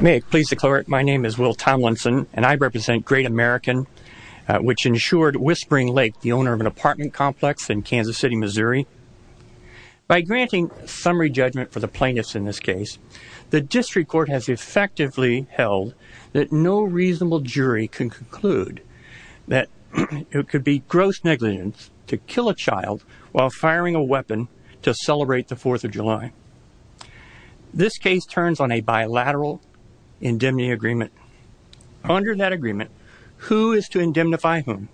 May it please the court, my name is Will Tomlinson, and I represent Great American, which insured Whispering Lake, the owner of an apartment complex in Kansas City, Missouri. By granting summary judgment for the plaintiffs in this case, the district court has effectively held that no reasonable jury can conclude that it could be gross negligence to kill a child while firing a weapon to celebrate the 4th of July. This case turns on a bilateral indemnity agreement. Under that agreement, who is to indemnify whom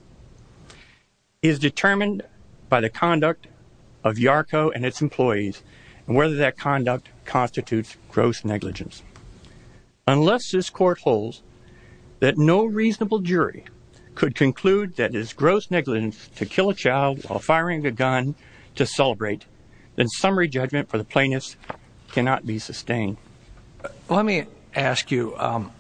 is determined by the conduct of YARCO and its employees and whether that conduct constitutes gross negligence. Unless this court holds that no reasonable jury could conclude that it is gross negligence to kill a child while firing a gun to celebrate, then summary judgment for the plaintiffs cannot be sustained. Let me ask you, um,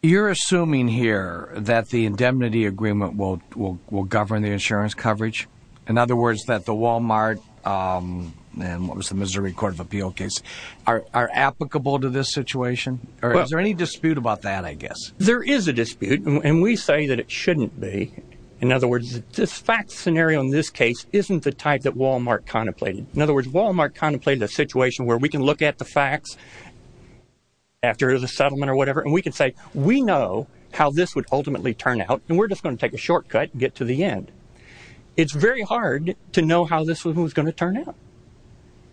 you're assuming here that the indemnity agreement will govern the insurance coverage? In other words, that the Walmart, um, and what was the Missouri Court of Appeal case, are applicable to this situation? Or is there any dispute about that, I guess? There is a dispute, and we say that it shouldn't be. In other words, this fact scenario in this case isn't the type that Walmart contemplated. In other words, Walmart contemplated a situation where we can look at the facts after the settlement or whatever, and we can say, we know how this would ultimately turn out, and we're just going to take a shortcut and get to the end. It's very hard to know how this was going to turn out.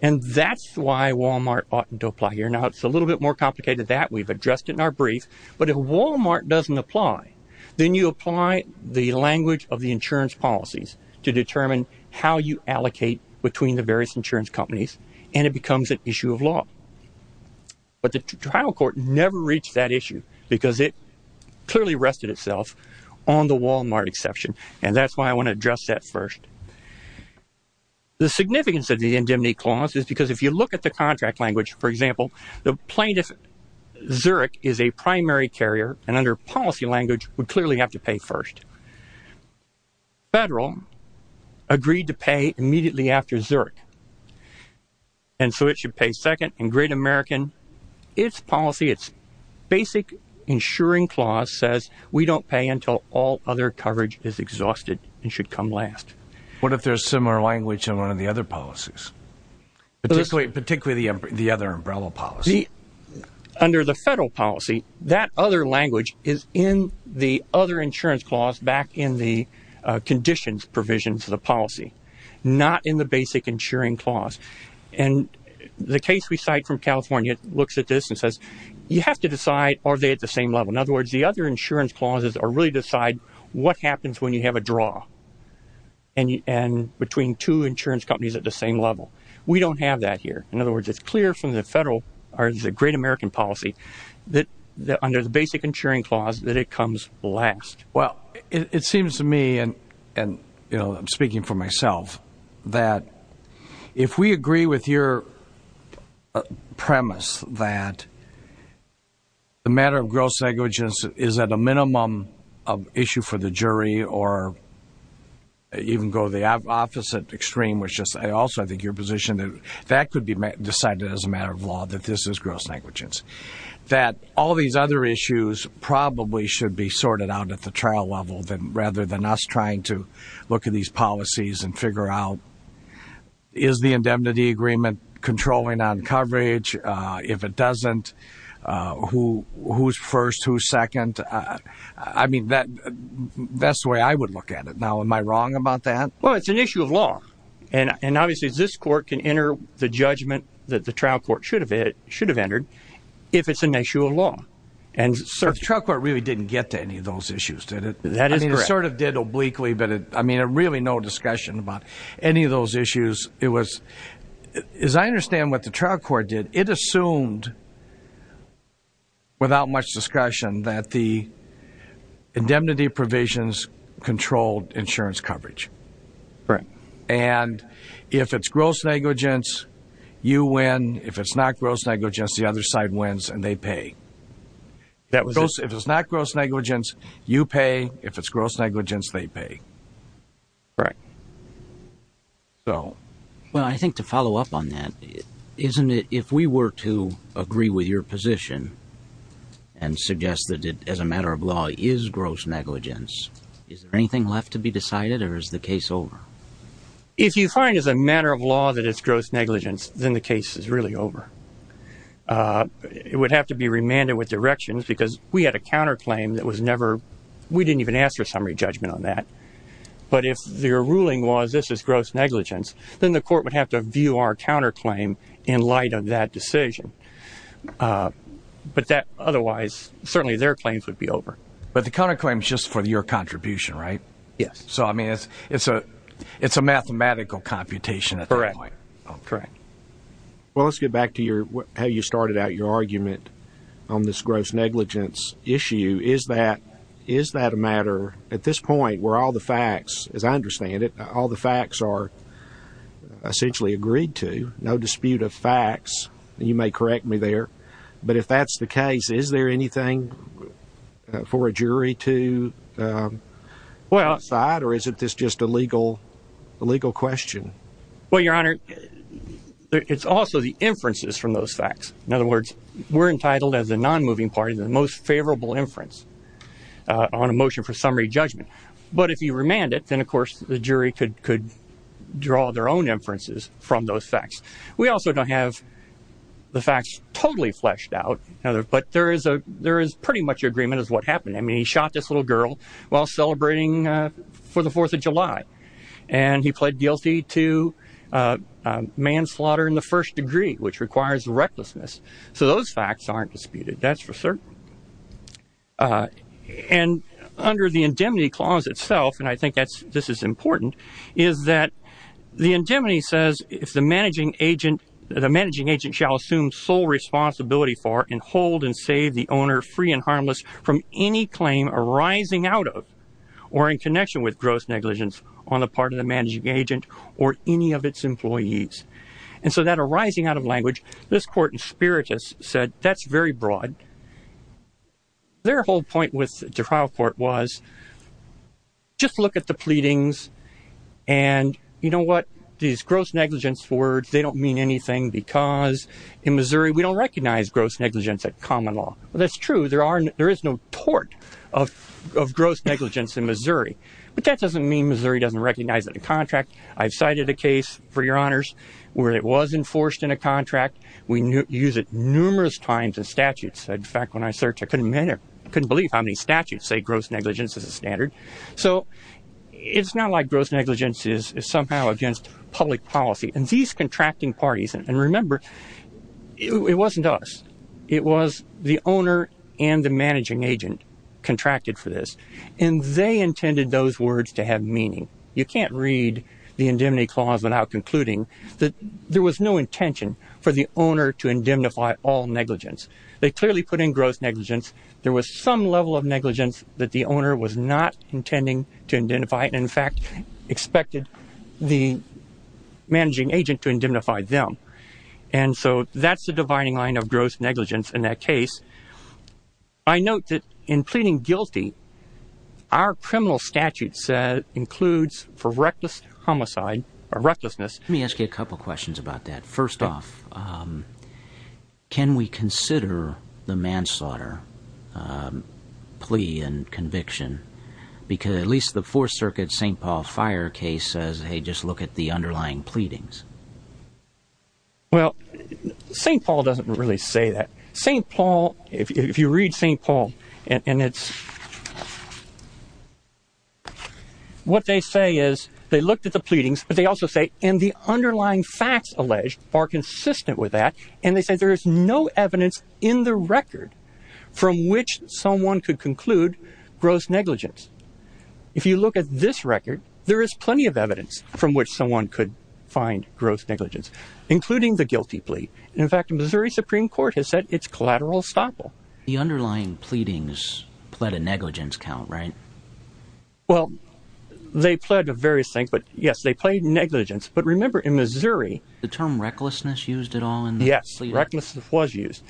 And that's why Walmart ought to apply here. Now, it's a little bit more complicated than that. We've addressed it in our brief. But if Walmart doesn't apply, then you apply the language of the insurance policies to determine how you allocate between the various insurance companies, and it becomes an issue of law. But the trial court never reached that issue, because it clearly rested itself on the Walmart exception. And that's why I want to address that first. The significance of the indemnity clause is because if you look at the contract language, for example, the plaintiff, Zurich, is a primary carrier, and under policy language, would clearly have to pay first. Federal agreed to pay immediately after Zurich, and so it should pay second. And Great American, its policy, its basic insuring clause says, we don't pay until all other coverage is exhausted and should come last. What if there's similar language in one of the other policies, particularly the other umbrella policy? Under the federal policy, that other language is in the other insurance clause back in the conditions provision to the policy, not in the basic insuring clause. And the case we cite from California looks at this and says, you have to decide, are they at the same level? In other words, the other insurance clauses really decide what happens when you have a draw between two insurance companies at the same level. We don't have that here. In other words, it's clear from the federal Great American policy that under the basic insuring clause that it comes last. Well, it seems to me, and I'm speaking for myself, that if we agree with your premise that the matter of gross negligence is at a minimum of issue for the jury or even go the opposite extreme, which is also, I think, your position that that could be decided as a matter of law that this is gross negligence, that all these other issues probably should be sorted out at the trial level rather than us trying to look at these policies and figure out, is the indemnity agreement controlling on coverage? If it doesn't, who's first, who's second? I mean, that's the way I would look at it. Now, am I wrong about that? Well, it's an issue of law and obviously this court can enter the judgment that the trial court should have entered if it's an issue of law. The trial court really didn't get to any of those issues, did it? That is correct. I mean, it sort of did obliquely, but I mean, really no discussion about any of those issues. As I understand what the trial court did, it assumed without much discussion that the indemnity provisions controlled insurance coverage. And if it's gross negligence, you win. If it's not gross negligence, the other side wins and they pay. If it's not gross negligence, you pay. If it's gross negligence, they pay. Well, I think to follow up on that, if we were to agree with your position and suggest that it, as a matter of law, is gross negligence, is there anything left to decide or is the case over? If you find as a matter of law that it's gross negligence, then the case is really over. It would have to be remanded with directions because we had a counterclaim that was never, we didn't even ask for summary judgment on that. But if the ruling was this is gross negligence, then the court would have to view our counterclaim in light of that decision. But that otherwise, certainly their claims would be over. But the counterclaim is just for your contribution, right? Yes. So, I mean, it's a mathematical computation. Correct. Correct. Well, let's get back to how you started out your argument on this gross negligence issue. Is that a matter at this point where all the facts, as I understand it, all the facts are essentially agreed to, no dispute of facts. You may correct me there. But is this just a legal question? Well, your honor, it's also the inferences from those facts. In other words, we're entitled as a non-moving party, the most favorable inference on a motion for summary judgment. But if you remand it, then of course the jury could draw their own inferences from those facts. We also don't have the facts totally fleshed out, but there is pretty much agreement is what happened. I mean, he shot this little girl while celebrating for the Fourth of July. And he pled guilty to manslaughter in the first degree, which requires recklessness. So those facts aren't disputed. That's for certain. And under the indemnity clause itself, and I think that's, this is important, is that the indemnity says if the managing agent, the managing agent shall assume sole responsibility for and hold and save the owner free and harmless from any claim arising out of or in connection with gross negligence on the part of the managing agent or any of its employees. And so that arising out of language, this court in Spiritus said that's very broad. Their whole point with the trial court was just look at the pleadings and you know what, these gross negligence words, they don't mean anything because in Missouri we don't recognize gross negligence at common law. That's true. There are, there is no tort of gross negligence in Missouri. But that doesn't mean Missouri doesn't recognize it in contract. I've cited a case, for your honors, where it was enforced in a contract. We use it numerous times in statutes. In fact, when I searched, I couldn't believe how many statutes say gross negligence is a standard. So it's not like gross negligence is somehow against public policy. And these contracting parties, and remember, it wasn't us. It was the owner and the managing agent contracted for this. And they intended those words to have meaning. You can't read the indemnity clause without concluding that there was no intention for the owner to indemnify all negligence. They clearly put in gross negligence. There was some level of negligence that the owner was not intending to indemnify. In fact, expected the managing agent to indemnify them. And so that's the dividing line of gross negligence in that case. I note that in pleading guilty, our criminal statute includes for reckless homicide or recklessness. Let me ask you a couple of questions about that. First off, can we consider the manslaughter plea and conviction? Because at least the Fourth Circuit St. Paul Fire case says, hey, just look at the underlying pleadings. Well, St. Paul doesn't really say that. St. Paul, if you read St. Paul, and it's... What they say is, they looked at the pleadings, but they also say, and the underlying facts alleged are consistent with that. And they say there is no evidence in the record from which someone could conclude gross negligence. If you look at this record, there is plenty of evidence from which someone could find gross negligence, including the guilty plea. In fact, Missouri Supreme Court has said it's collateral estoppel. The underlying pleadings pled a negligence count, right? Well, they pled various things, but yes, they pled negligence. But remember, in Missouri... The term recklessness used at all? Yes, recklessness was used.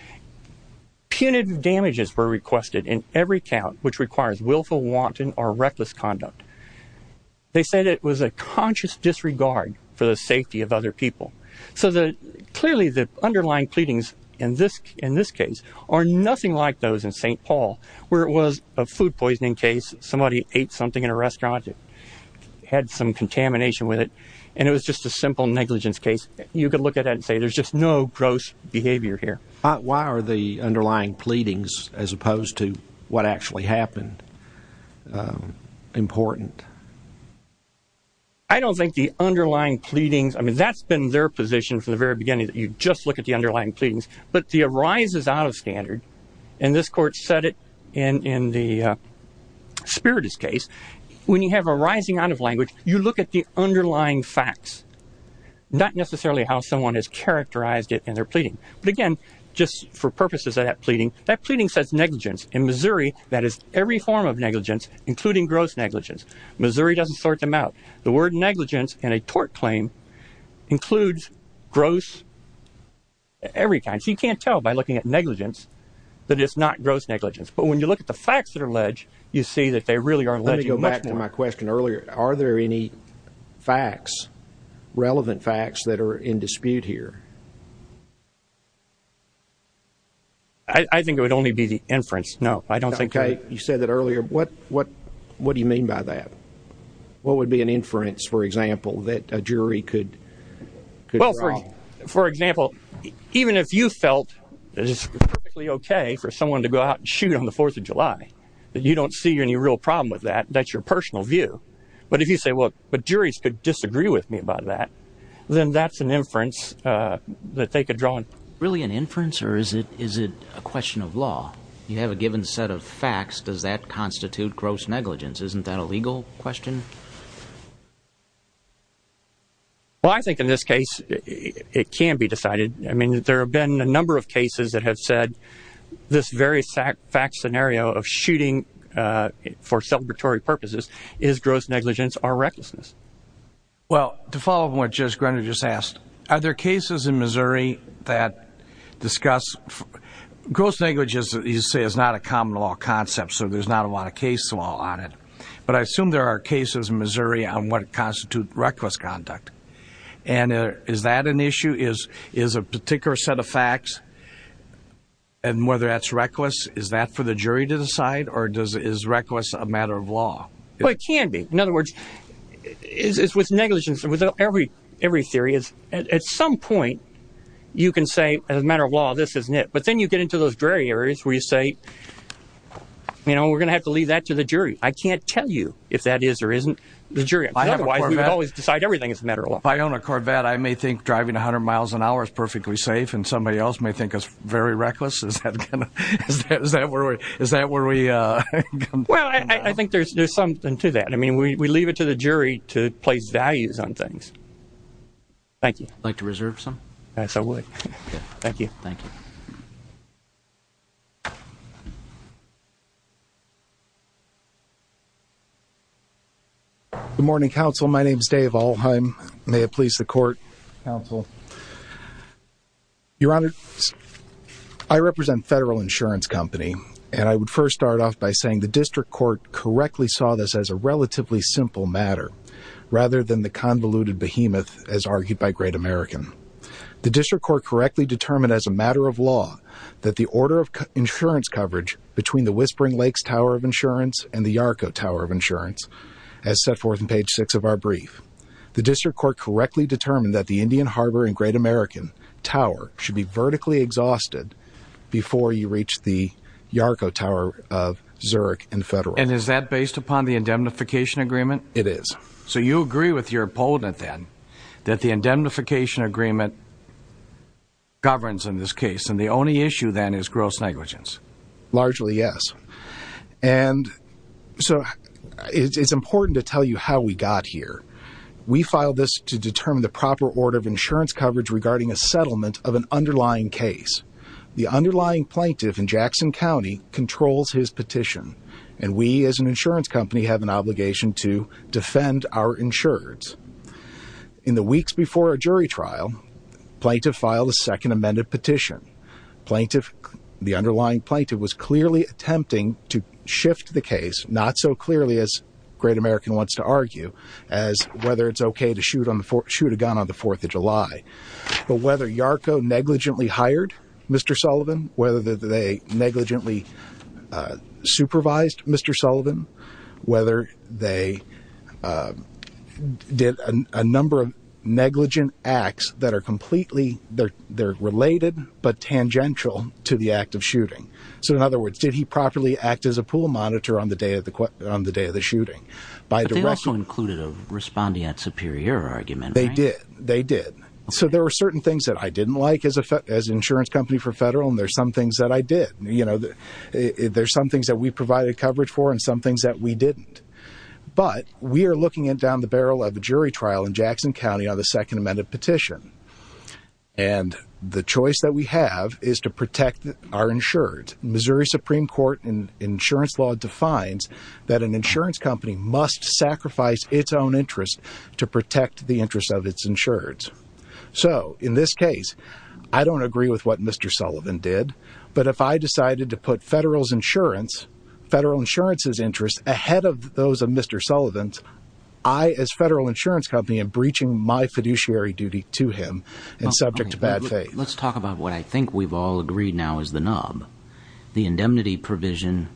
Punitive damages were requested in every count which requires willful, wanton, or reckless conduct. They said it was a conscious disregard for the safety of other people. So clearly, the underlying pleadings in this case are nothing like those in St. Paul, where it was a food poisoning case. Somebody ate something in a restaurant that had some contamination with it, and it was just a simple negligence case. You could look at that and say there's just no gross behavior here. Why are the underlying pleadings, as opposed to what actually happened, important? I don't think the underlying pleadings... I mean, that's been their position from the very beginning, that you just look at the underlying pleadings. But the arises out of standard, and this court said it in the Spiritus case, when you have arising out of language, you look at the underlying facts, not necessarily how someone has characterized it in their pleading. But again, just for purposes of that pleading, that pleading says negligence. In Missouri, that is every form of negligence, including gross negligence. Missouri doesn't sort them out. The word negligence in a tort claim includes gross... every kind. So you can't tell by looking at negligence that it's not gross negligence. But when you look at the facts that are alleged, you see that they really are alleging much more. Let me go back to my question earlier. Are there any facts, relevant facts, that are in dispute here? I think it would only be the inference. No, I don't think... Okay. You said that earlier. What do you mean by that? What would be an inference, for example, that a jury could... Well, for example, even if you felt that it's perfectly okay for someone to go out and shoot on the 4th of July, that you don't see any real problem with that, that's your personal view. But if you say, well, but juries could disagree with me about that, then that's an inference that they could draw on. Really an inference, or is it a question of law? You have a given set of facts. Does that constitute gross negligence? Isn't that a legal question? Well, I think in this case, it can be decided. I mean, there have been a number of cases that have said this very fact scenario of shooting for celebratory purposes is gross negligence or recklessness. Well, to follow up on what Judge Gruner just asked, are there cases in Missouri that discuss gross negligence that you say is not a common law concept, so there's not a lot of case law on it? But I assume there are cases in Missouri on what constitutes reckless conduct. And is that an issue? Is a particular set of facts, and whether that's reckless, is that for the jury to decide, or is reckless a matter of law? Well, it can be. In other words, it's with negligence, with every theory. At some point, you can say, as a matter of law, this isn't it. But then you get into those gray areas where you say, you know, we're going to have to leave that to the jury. I can't tell you if that is or isn't the jury. Otherwise, we would always decide everything is a matter of law. If I own a Corvette, I may think driving 100 miles an hour is perfectly safe, and somebody else may think it's very reckless. Is that where we come from? Well, I think there's something to that. I mean, we leave it to the jury to place values on things. Thank you. Would you like to reserve some? Yes, I would. Thank you. Thank you. Good morning, counsel. My name is Dave Alheim. May it please the court? Counsel. Your Honor, I represent Federal Insurance Company, and I would first start off by saying the district court correctly saw this as a relatively simple matter, rather than the convoluted behemoth, as argued by Great American. The district court correctly determined as a matter of law that the order of insurance coverage between the Whispering Lakes Tower of Insurance and the Yarko Tower of Insurance, as set forth in page six of our brief, the district court correctly determined that the Indian Harbor and Great American Tower should be vertically exhausted before you reach the Yarko Tower of Zurich and Federal. And is that based upon the indemnification agreement? It is. So you agree with your opponent, then, that the indemnification agreement governs in this case, and the only issue, then, is gross negligence? Largely, yes. And so it's important to tell you how we got here. We filed this to determine the proper order of insurance coverage regarding a settlement of an underlying case. The underlying plaintiff in Jackson County controls his petition, and we as an insurance company have an obligation to defend our insurers. In the weeks before our jury trial, plaintiff filed a second amended petition. The underlying plaintiff was clearly attempting to shift the case, not so clearly, as Great American wants to argue, as whether it's okay to shoot a gun on the 4th of July. But whether Yarko negligently hired Mr. Sullivan, whether they negligently supervised Mr. Sullivan, whether they did a number of negligent acts that are related but tangential to the act of shooting. So in other words, did he properly act as a pool monitor on the day of the shooting? But they also included a respondeat superior argument, right? They did. They did. So there were certain things that I didn't like as an insurance company for federal, and there's some things that I did. There's some things that we provided coverage for and some things that we didn't. But we are looking at down the barrel of a jury trial in Jackson County on the second amended petition. And the choice that we have is to protect our insurers. Missouri Supreme Court and insurance law defines that an insurance company must sacrifice its own interest to protect the interest of its insurers. So in this case, I don't agree with what Mr. Sullivan did, but if I decided to put federal's insurance, federal insurance's interest ahead of those of Mr. Sullivan's, I as federal insurance company am breaching my fiduciary duty to him and subject to bad faith. Let's talk about what I think we've all agreed now is the nub. The indemnity provision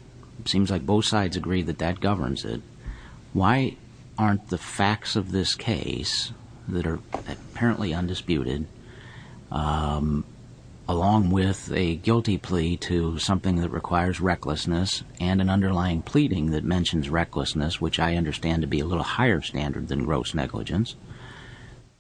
seems like both sides agree that that governs it. Why aren't the facts of this case that are apparently undisputed, um, along with a guilty plea to something that requires recklessness and an underlying pleading that mentions recklessness, which I understand to be a little higher standard than gross negligence.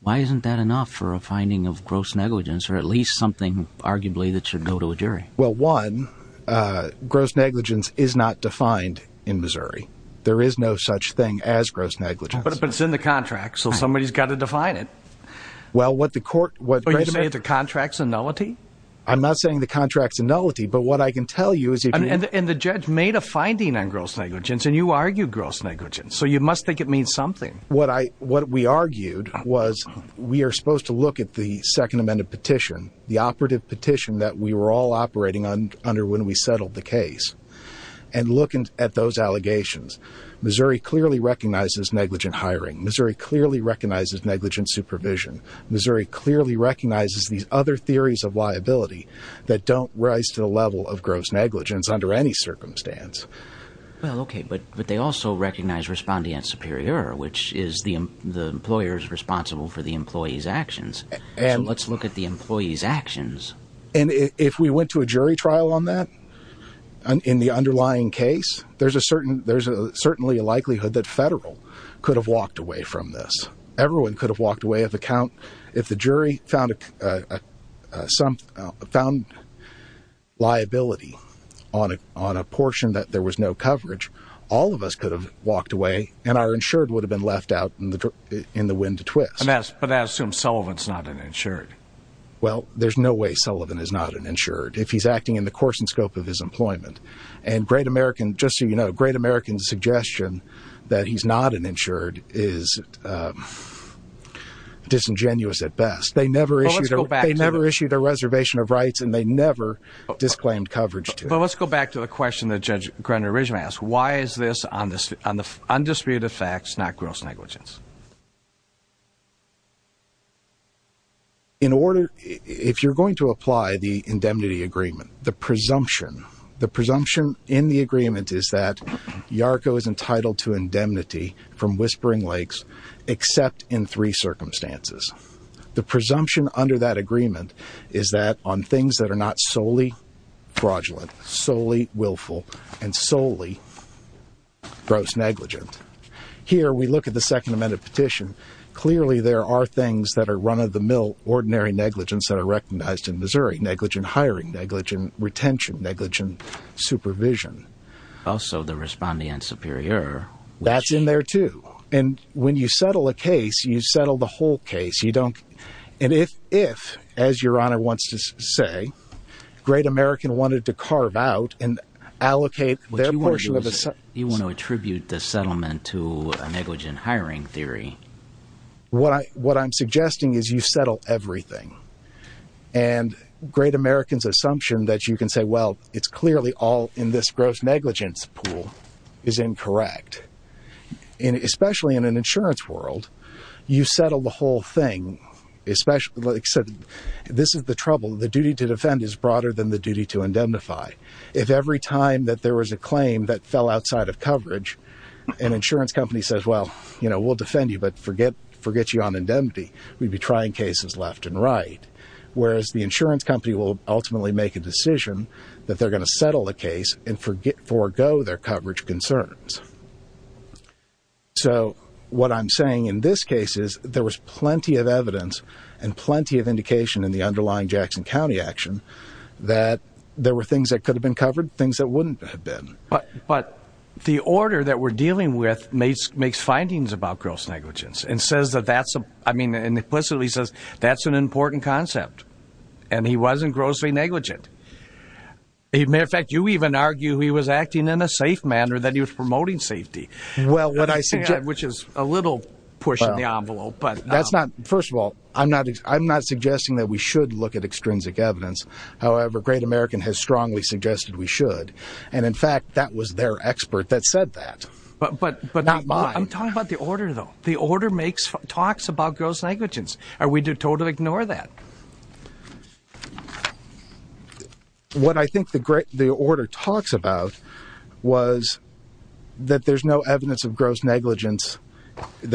Why isn't that enough for a finding of gross negligence or at least something arguably that should go to a jury? Well, one, uh, gross negligence is not defined in Missouri. There is no such thing as gross negligence, but it's in the contract. So somebody has got to define it. Well, what the court, the contracts and nullity, I'm not saying the contracts and nullity, but what I can tell you is, and the judge made a finding on gross negligence and you argue gross negligence. So you must think it means something. What I, what we argued was we are supposed to look at the second amended petition, the operative petition that we were all operating on under when we settled the case and look at those allegations. Missouri clearly recognizes negligent hiring. Missouri clearly recognizes negligent supervision. Missouri clearly recognizes these other theories of liability that don't rise to the level of gross negligence under any circumstance. Well, okay. But, but they also recognize respondent superior, which is the, the employer's responsible for the employee's actions. And let's look at the employee's actions. And if we went to a jury trial on that in the underlying case, there's a certain, there's a certainly a likelihood that federal could have walked away from this. Everyone could have walked away of account. If the jury found some found liability on a, on a portion that there was no coverage, all of us could have walked away and our insured would have been left out in the, in the wind to twist. And that's, but I assume Sullivan's not an insured. Well, there's no way Sullivan is not an insured if he's acting in the course and scope of his that he's not an insured is disingenuous at best. They never issued, they never issued a reservation of rights and they never disclaimed coverage. But let's go back to the question that Judge Grenner originally asked. Why is this on this, on the undisputed facts, not gross negligence? In order, if you're going to apply the indemnity agreement, the presumption, the presumption in the agreement is that Yarko is entitled to indemnity from Whispering Lakes, except in three circumstances. The presumption under that agreement is that on things that are not solely fraudulent, solely willful, and solely gross negligent. Here, we look at the second amendment petition. Clearly there are things that are run of the mill, ordinary negligence that are supervision. Also the respondent superior. That's in there too. And when you settle a case, you settle the whole case. You don't. And if, if, as your honor wants to say, great American wanted to carve out and allocate their portion of, you want to attribute the settlement to a negligent hiring theory. What I, what I'm suggesting is you settle everything and great American's assumption that you can say, well, it's clearly all in this gross negligence pool is incorrect. And especially in an insurance world, you settle the whole thing, especially, like I said, this is the trouble. The duty to defend is broader than the duty to indemnify. If every time that there was a claim that fell outside of coverage, an insurance company says, well, you know, we'll defend you, but forget, forget you on indemnity. We'd be trying cases left and right. Whereas the insurance company will ultimately make a decision that they're going to settle the case and forget, forego their coverage concerns. So what I'm saying in this case is there was plenty of evidence and plenty of indication in the underlying Jackson County action that there were things that could have been covered things that wouldn't have been. But the order that we're dealing with makes, findings about gross negligence and says that that's, I mean, implicitly says that's an important concept and he wasn't grossly negligent. He may affect you even argue he was acting in a safe manner that he was promoting safety. Well, what I see, which is a little push in the envelope, but that's not, first of all, I'm not, I'm not suggesting that we should look at extrinsic evidence. However, great American has strongly suggested we should. And in fact, that was their expert that said that, but, but not mine. I'm talking about the order though. The order makes talks about gross negligence. Are we to totally ignore that? What I think the great, the order talks about was that there's no evidence of gross negligence.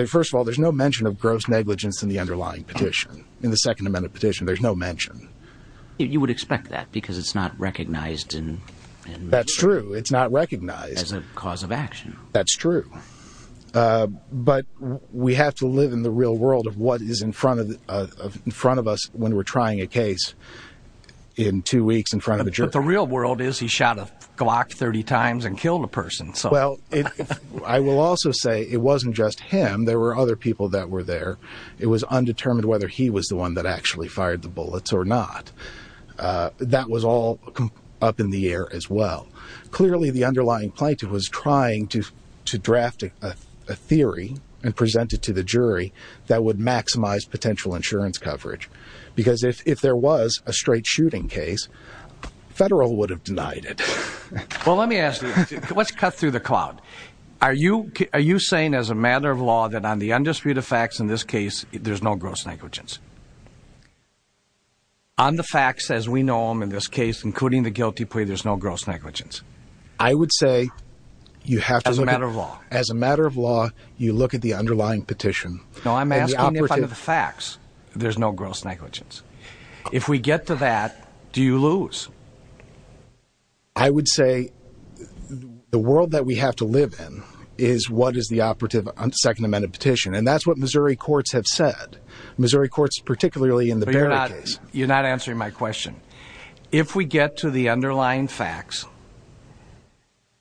First of all, there's no mention of gross negligence in the underlying petition. In the second amendment petition, there's no mention. You would expect that because it's not cause of action. That's true. But we have to live in the real world of what is in front of, in front of us when we're trying a case in two weeks in front of the real world is he shot a Glock 30 times and killed a person. So, well, I will also say it wasn't just him. There were other people that were there. It was undetermined whether he was the one that actually fired the plaintiff was trying to, to draft a theory and present it to the jury that would maximize potential insurance coverage. Because if, if there was a straight shooting case, federal would have denied it. Well, let me ask you, let's cut through the cloud. Are you, are you saying as a matter of law that on the undisputed facts in this case, there's no gross negligence on the facts as we know them in this case, including the guilty there's no gross negligence. I would say you have to look at as a matter of law, you look at the underlying petition facts. There's no gross negligence. If we get to that, do you lose? I would say the world that we have to live in is what is the operative on second amendment petition. And that's what Missouri courts have said. Missouri courts, particularly in the case, you're not answering my question. If we get to the underlying facts,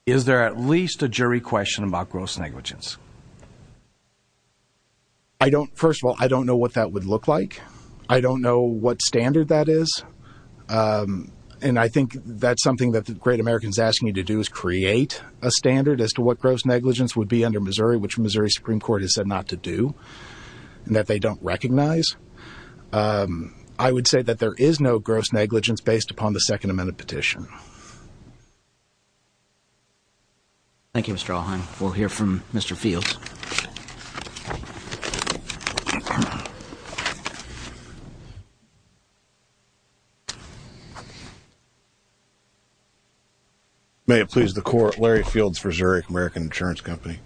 is there at least a jury question about gross negligence? I don't, first of all, I don't know what that would look like. I don't know what standard that is. Um, and I think that's something that the great Americans asking you to do is create a standard as to what gross negligence would be under Missouri, which Missouri Supreme Court has said to do and that they don't recognize. Um, I would say that there is no gross negligence based upon the second amendment petition. Thank you, Mr. Alheim. We'll hear from Mr. Fields. May it please the court, Larry Fields for Zurich American insurance company.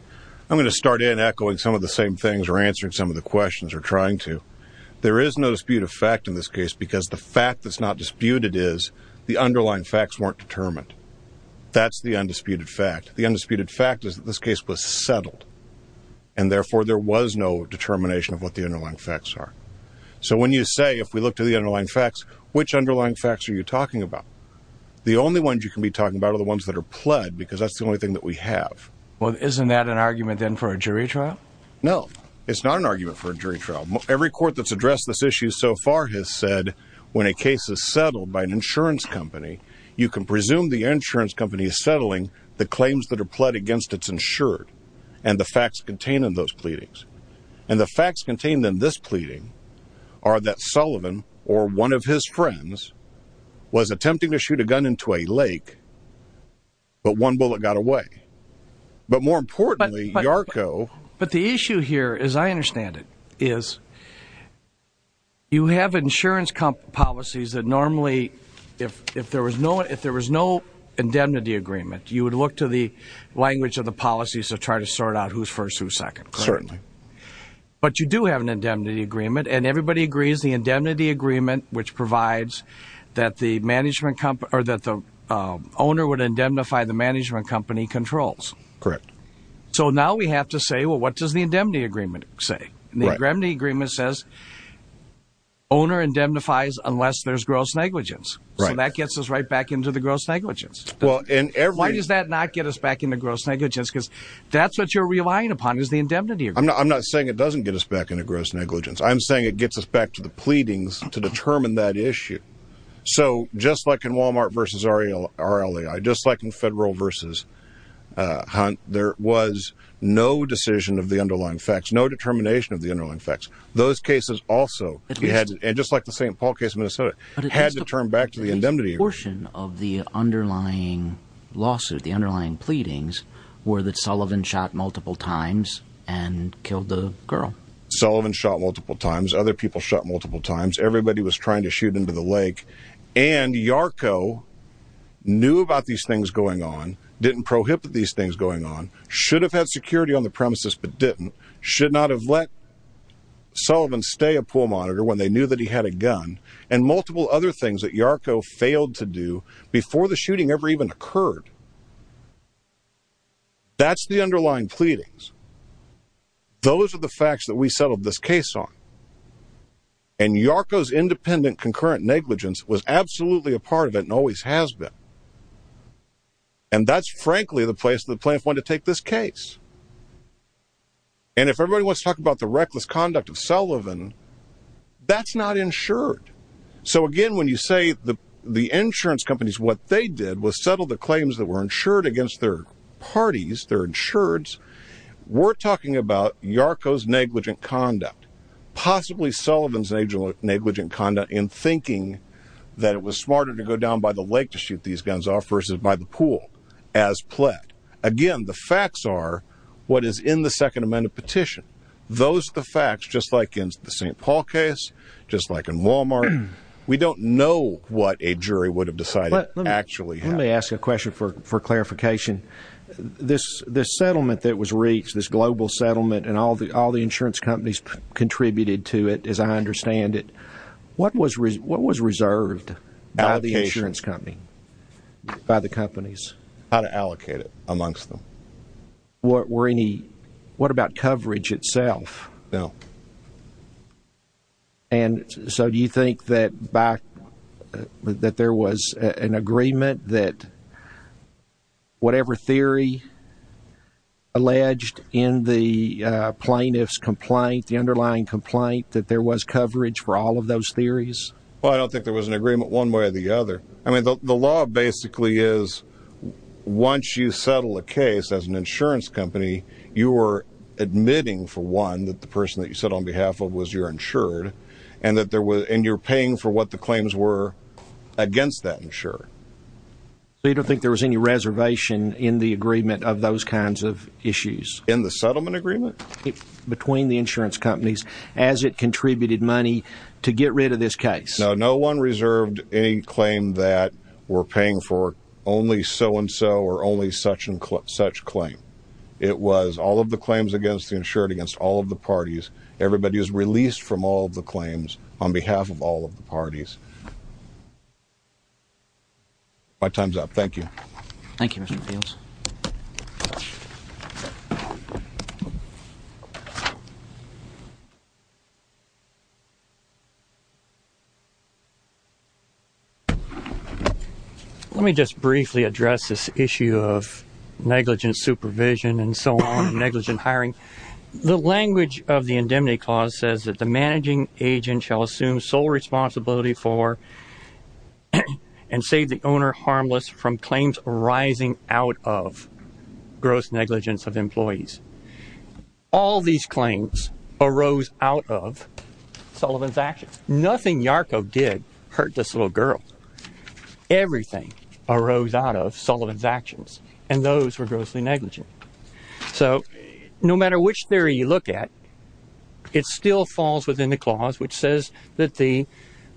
I'm going to start in echoing some of the same things or answering some of the questions or trying to, there is no dispute of fact in this case because the fact that's not disputed is the underlying facts weren't determined. That's the undisputed fact. The undisputed fact is that this case was settled and therefore there was no determination of what the underlying facts are. So when you say, if we look to the underlying facts, which underlying facts are you talking about? The only ones you can be talking about are the ones that are pled because that's the thing that we have. Well, isn't that an argument then for a jury trial? No, it's not an argument for a jury trial. Every court that's addressed this issue so far has said when a case is settled by an insurance company, you can presume the insurance company is settling the claims that are pled against it's insured and the facts contained in those pleadings and the facts contained in this pleading are that Sullivan or one of his friends was attempting to shoot a gun into a lake, but one bullet got away. But more importantly, Yarko. But the issue here, as I understand it, is you have insurance policies that normally, if there was no indemnity agreement, you would look to the language of the policies to try to sort out who's first, who's second. Certainly. But you do have an indemnity agreement and everybody agrees the indemnity agreement, which provides that the management company or that the owner would indemnify the management company controls. Correct. So now we have to say, well, what does the indemnity agreement say? The remedy agreement says owner indemnifies unless there's gross negligence. So that gets us right back into the gross negligence. Well, and why does that not get us back into gross negligence? Because that's what you're relying upon is the indemnity. I'm not saying it doesn't get us back into gross negligence. I'm saying it gets us back to the pleadings to determine that issue. So just like in Walmart versus RLA, just like in federal versus Hunt, there was no decision of the underlying facts, no determination of the underlying facts. Those cases also, just like the St. Paul case in Minnesota, had to turn back to the indemnity agreement. The portion of the underlying lawsuit, the underlying pleadings, were that Sullivan shot multiple times and killed the girl. Sullivan shot multiple times. Other people shot multiple times. Everybody was trying to shoot into the lake. And Yarko knew about these things going on, didn't prohibit these things going on, should have had security on the premises but didn't, should not have let Sullivan stay a pool monitor when they knew that he had a gun, and multiple other things that Yarko failed to do before the shooting ever even occurred. That's the underlying pleadings. Those are the facts that we settled this case on. And Yarko's independent concurrent negligence was absolutely a part of it and always has been. And that's frankly the place the plaintiff wanted to take this case. And if everybody wants to talk about the reckless conduct of Sullivan, that's not insured. So again, when you say the insurance companies, what they did was settle the claims were insured against their parties, their insureds, we're talking about Yarko's negligent conduct, possibly Sullivan's negligent conduct in thinking that it was smarter to go down by the lake to shoot these guns off versus by the pool as pled. Again, the facts are what is in the Second Amendment petition. Those are the facts, just like in the St. Paul case, just like in Walmart. We don't know what a jury would have decided actually. Let me ask you a question for clarification. This settlement that was reached, this global settlement, and all the insurance companies contributed to it, as I understand it, what was reserved by the insurance company, by the companies? How to allocate it amongst them. What about coverage itself? No. And so do you think that there was an agreement that whatever theory alleged in the plaintiff's complaint, the underlying complaint, that there was coverage for all of those theories? Well, I don't think there was an agreement one way or the other. I mean, the law basically is once you settle a case as an insurance company, you are admitting for one that the person that on behalf of was your insured, and you're paying for what the claims were against that insured. So you don't think there was any reservation in the agreement of those kinds of issues? In the settlement agreement? Between the insurance companies as it contributed money to get rid of this case? No. No one reserved any claim that we're paying for only so-and-so or only such claim. It was all of the claims against the insured, against all of the parties. Everybody was released from all of the claims on behalf of all of the parties. My time's up. Thank you. Thank you, Mr. Fields. Let me just briefly address this issue of negligent supervision and so on, negligent hiring. The language of the indemnity clause says that the managing agent shall assume sole responsibility for and save the owner harmless from claims arising out of gross negligence of employees. All these claims arose out of Sullivan's actions. Nothing Yarkov did hurt this little girl. Everything arose out of Sullivan's actions, and those were grossly negligent. So no matter which theory you look at, it still falls within the clause which says that the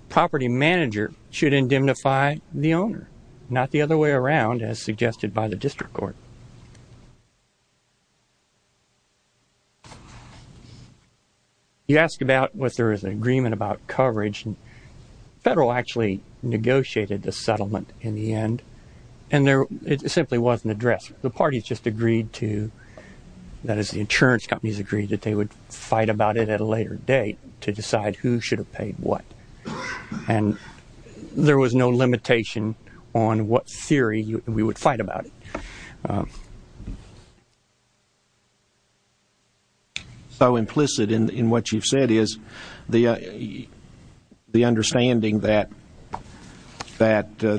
property manager should indemnify the owner, not the other way around as suggested by the district court. You ask about whether there is an agreement about coverage, and the federal actually negotiated the settlement in the end, and it simply wasn't addressed. The parties just agreed to, that is, the insurance companies agreed that they would fight about it at a later date to decide who should have paid what, and there was no limitation on what theory we would fight about. So implicit in what you've said is the understanding that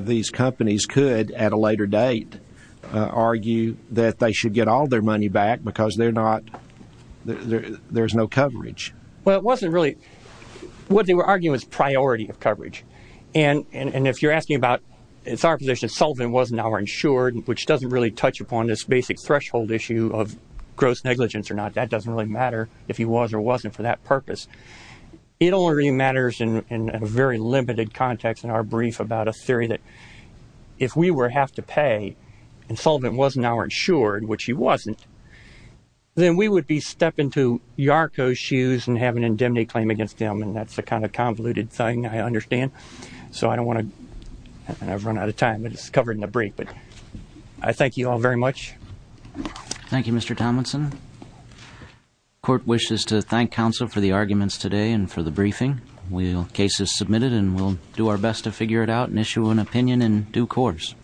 these companies could, at a later date, argue that they should get all their money back because there's no coverage. What they were arguing was priority of coverage, and if you're asking about, it's our position Sullivan wasn't our insured, which doesn't really touch upon this basic threshold issue of gross negligence or not. That doesn't really matter if he was or wasn't for that purpose. It only really matters in a very limited context in our brief about a theory that if we were to have to pay, and Sullivan wasn't our insured, which he wasn't, then we would be stepping to Yarko's shoes and have an indemnity claim against him, and that's the kind of convoluted thing I understand. So I don't want to, I've run out of time, but it's covered in the brief. But I thank you all very much. Thank you, Mr. Tomlinson. Court wishes to thank counsel for the arguments today and for the due course.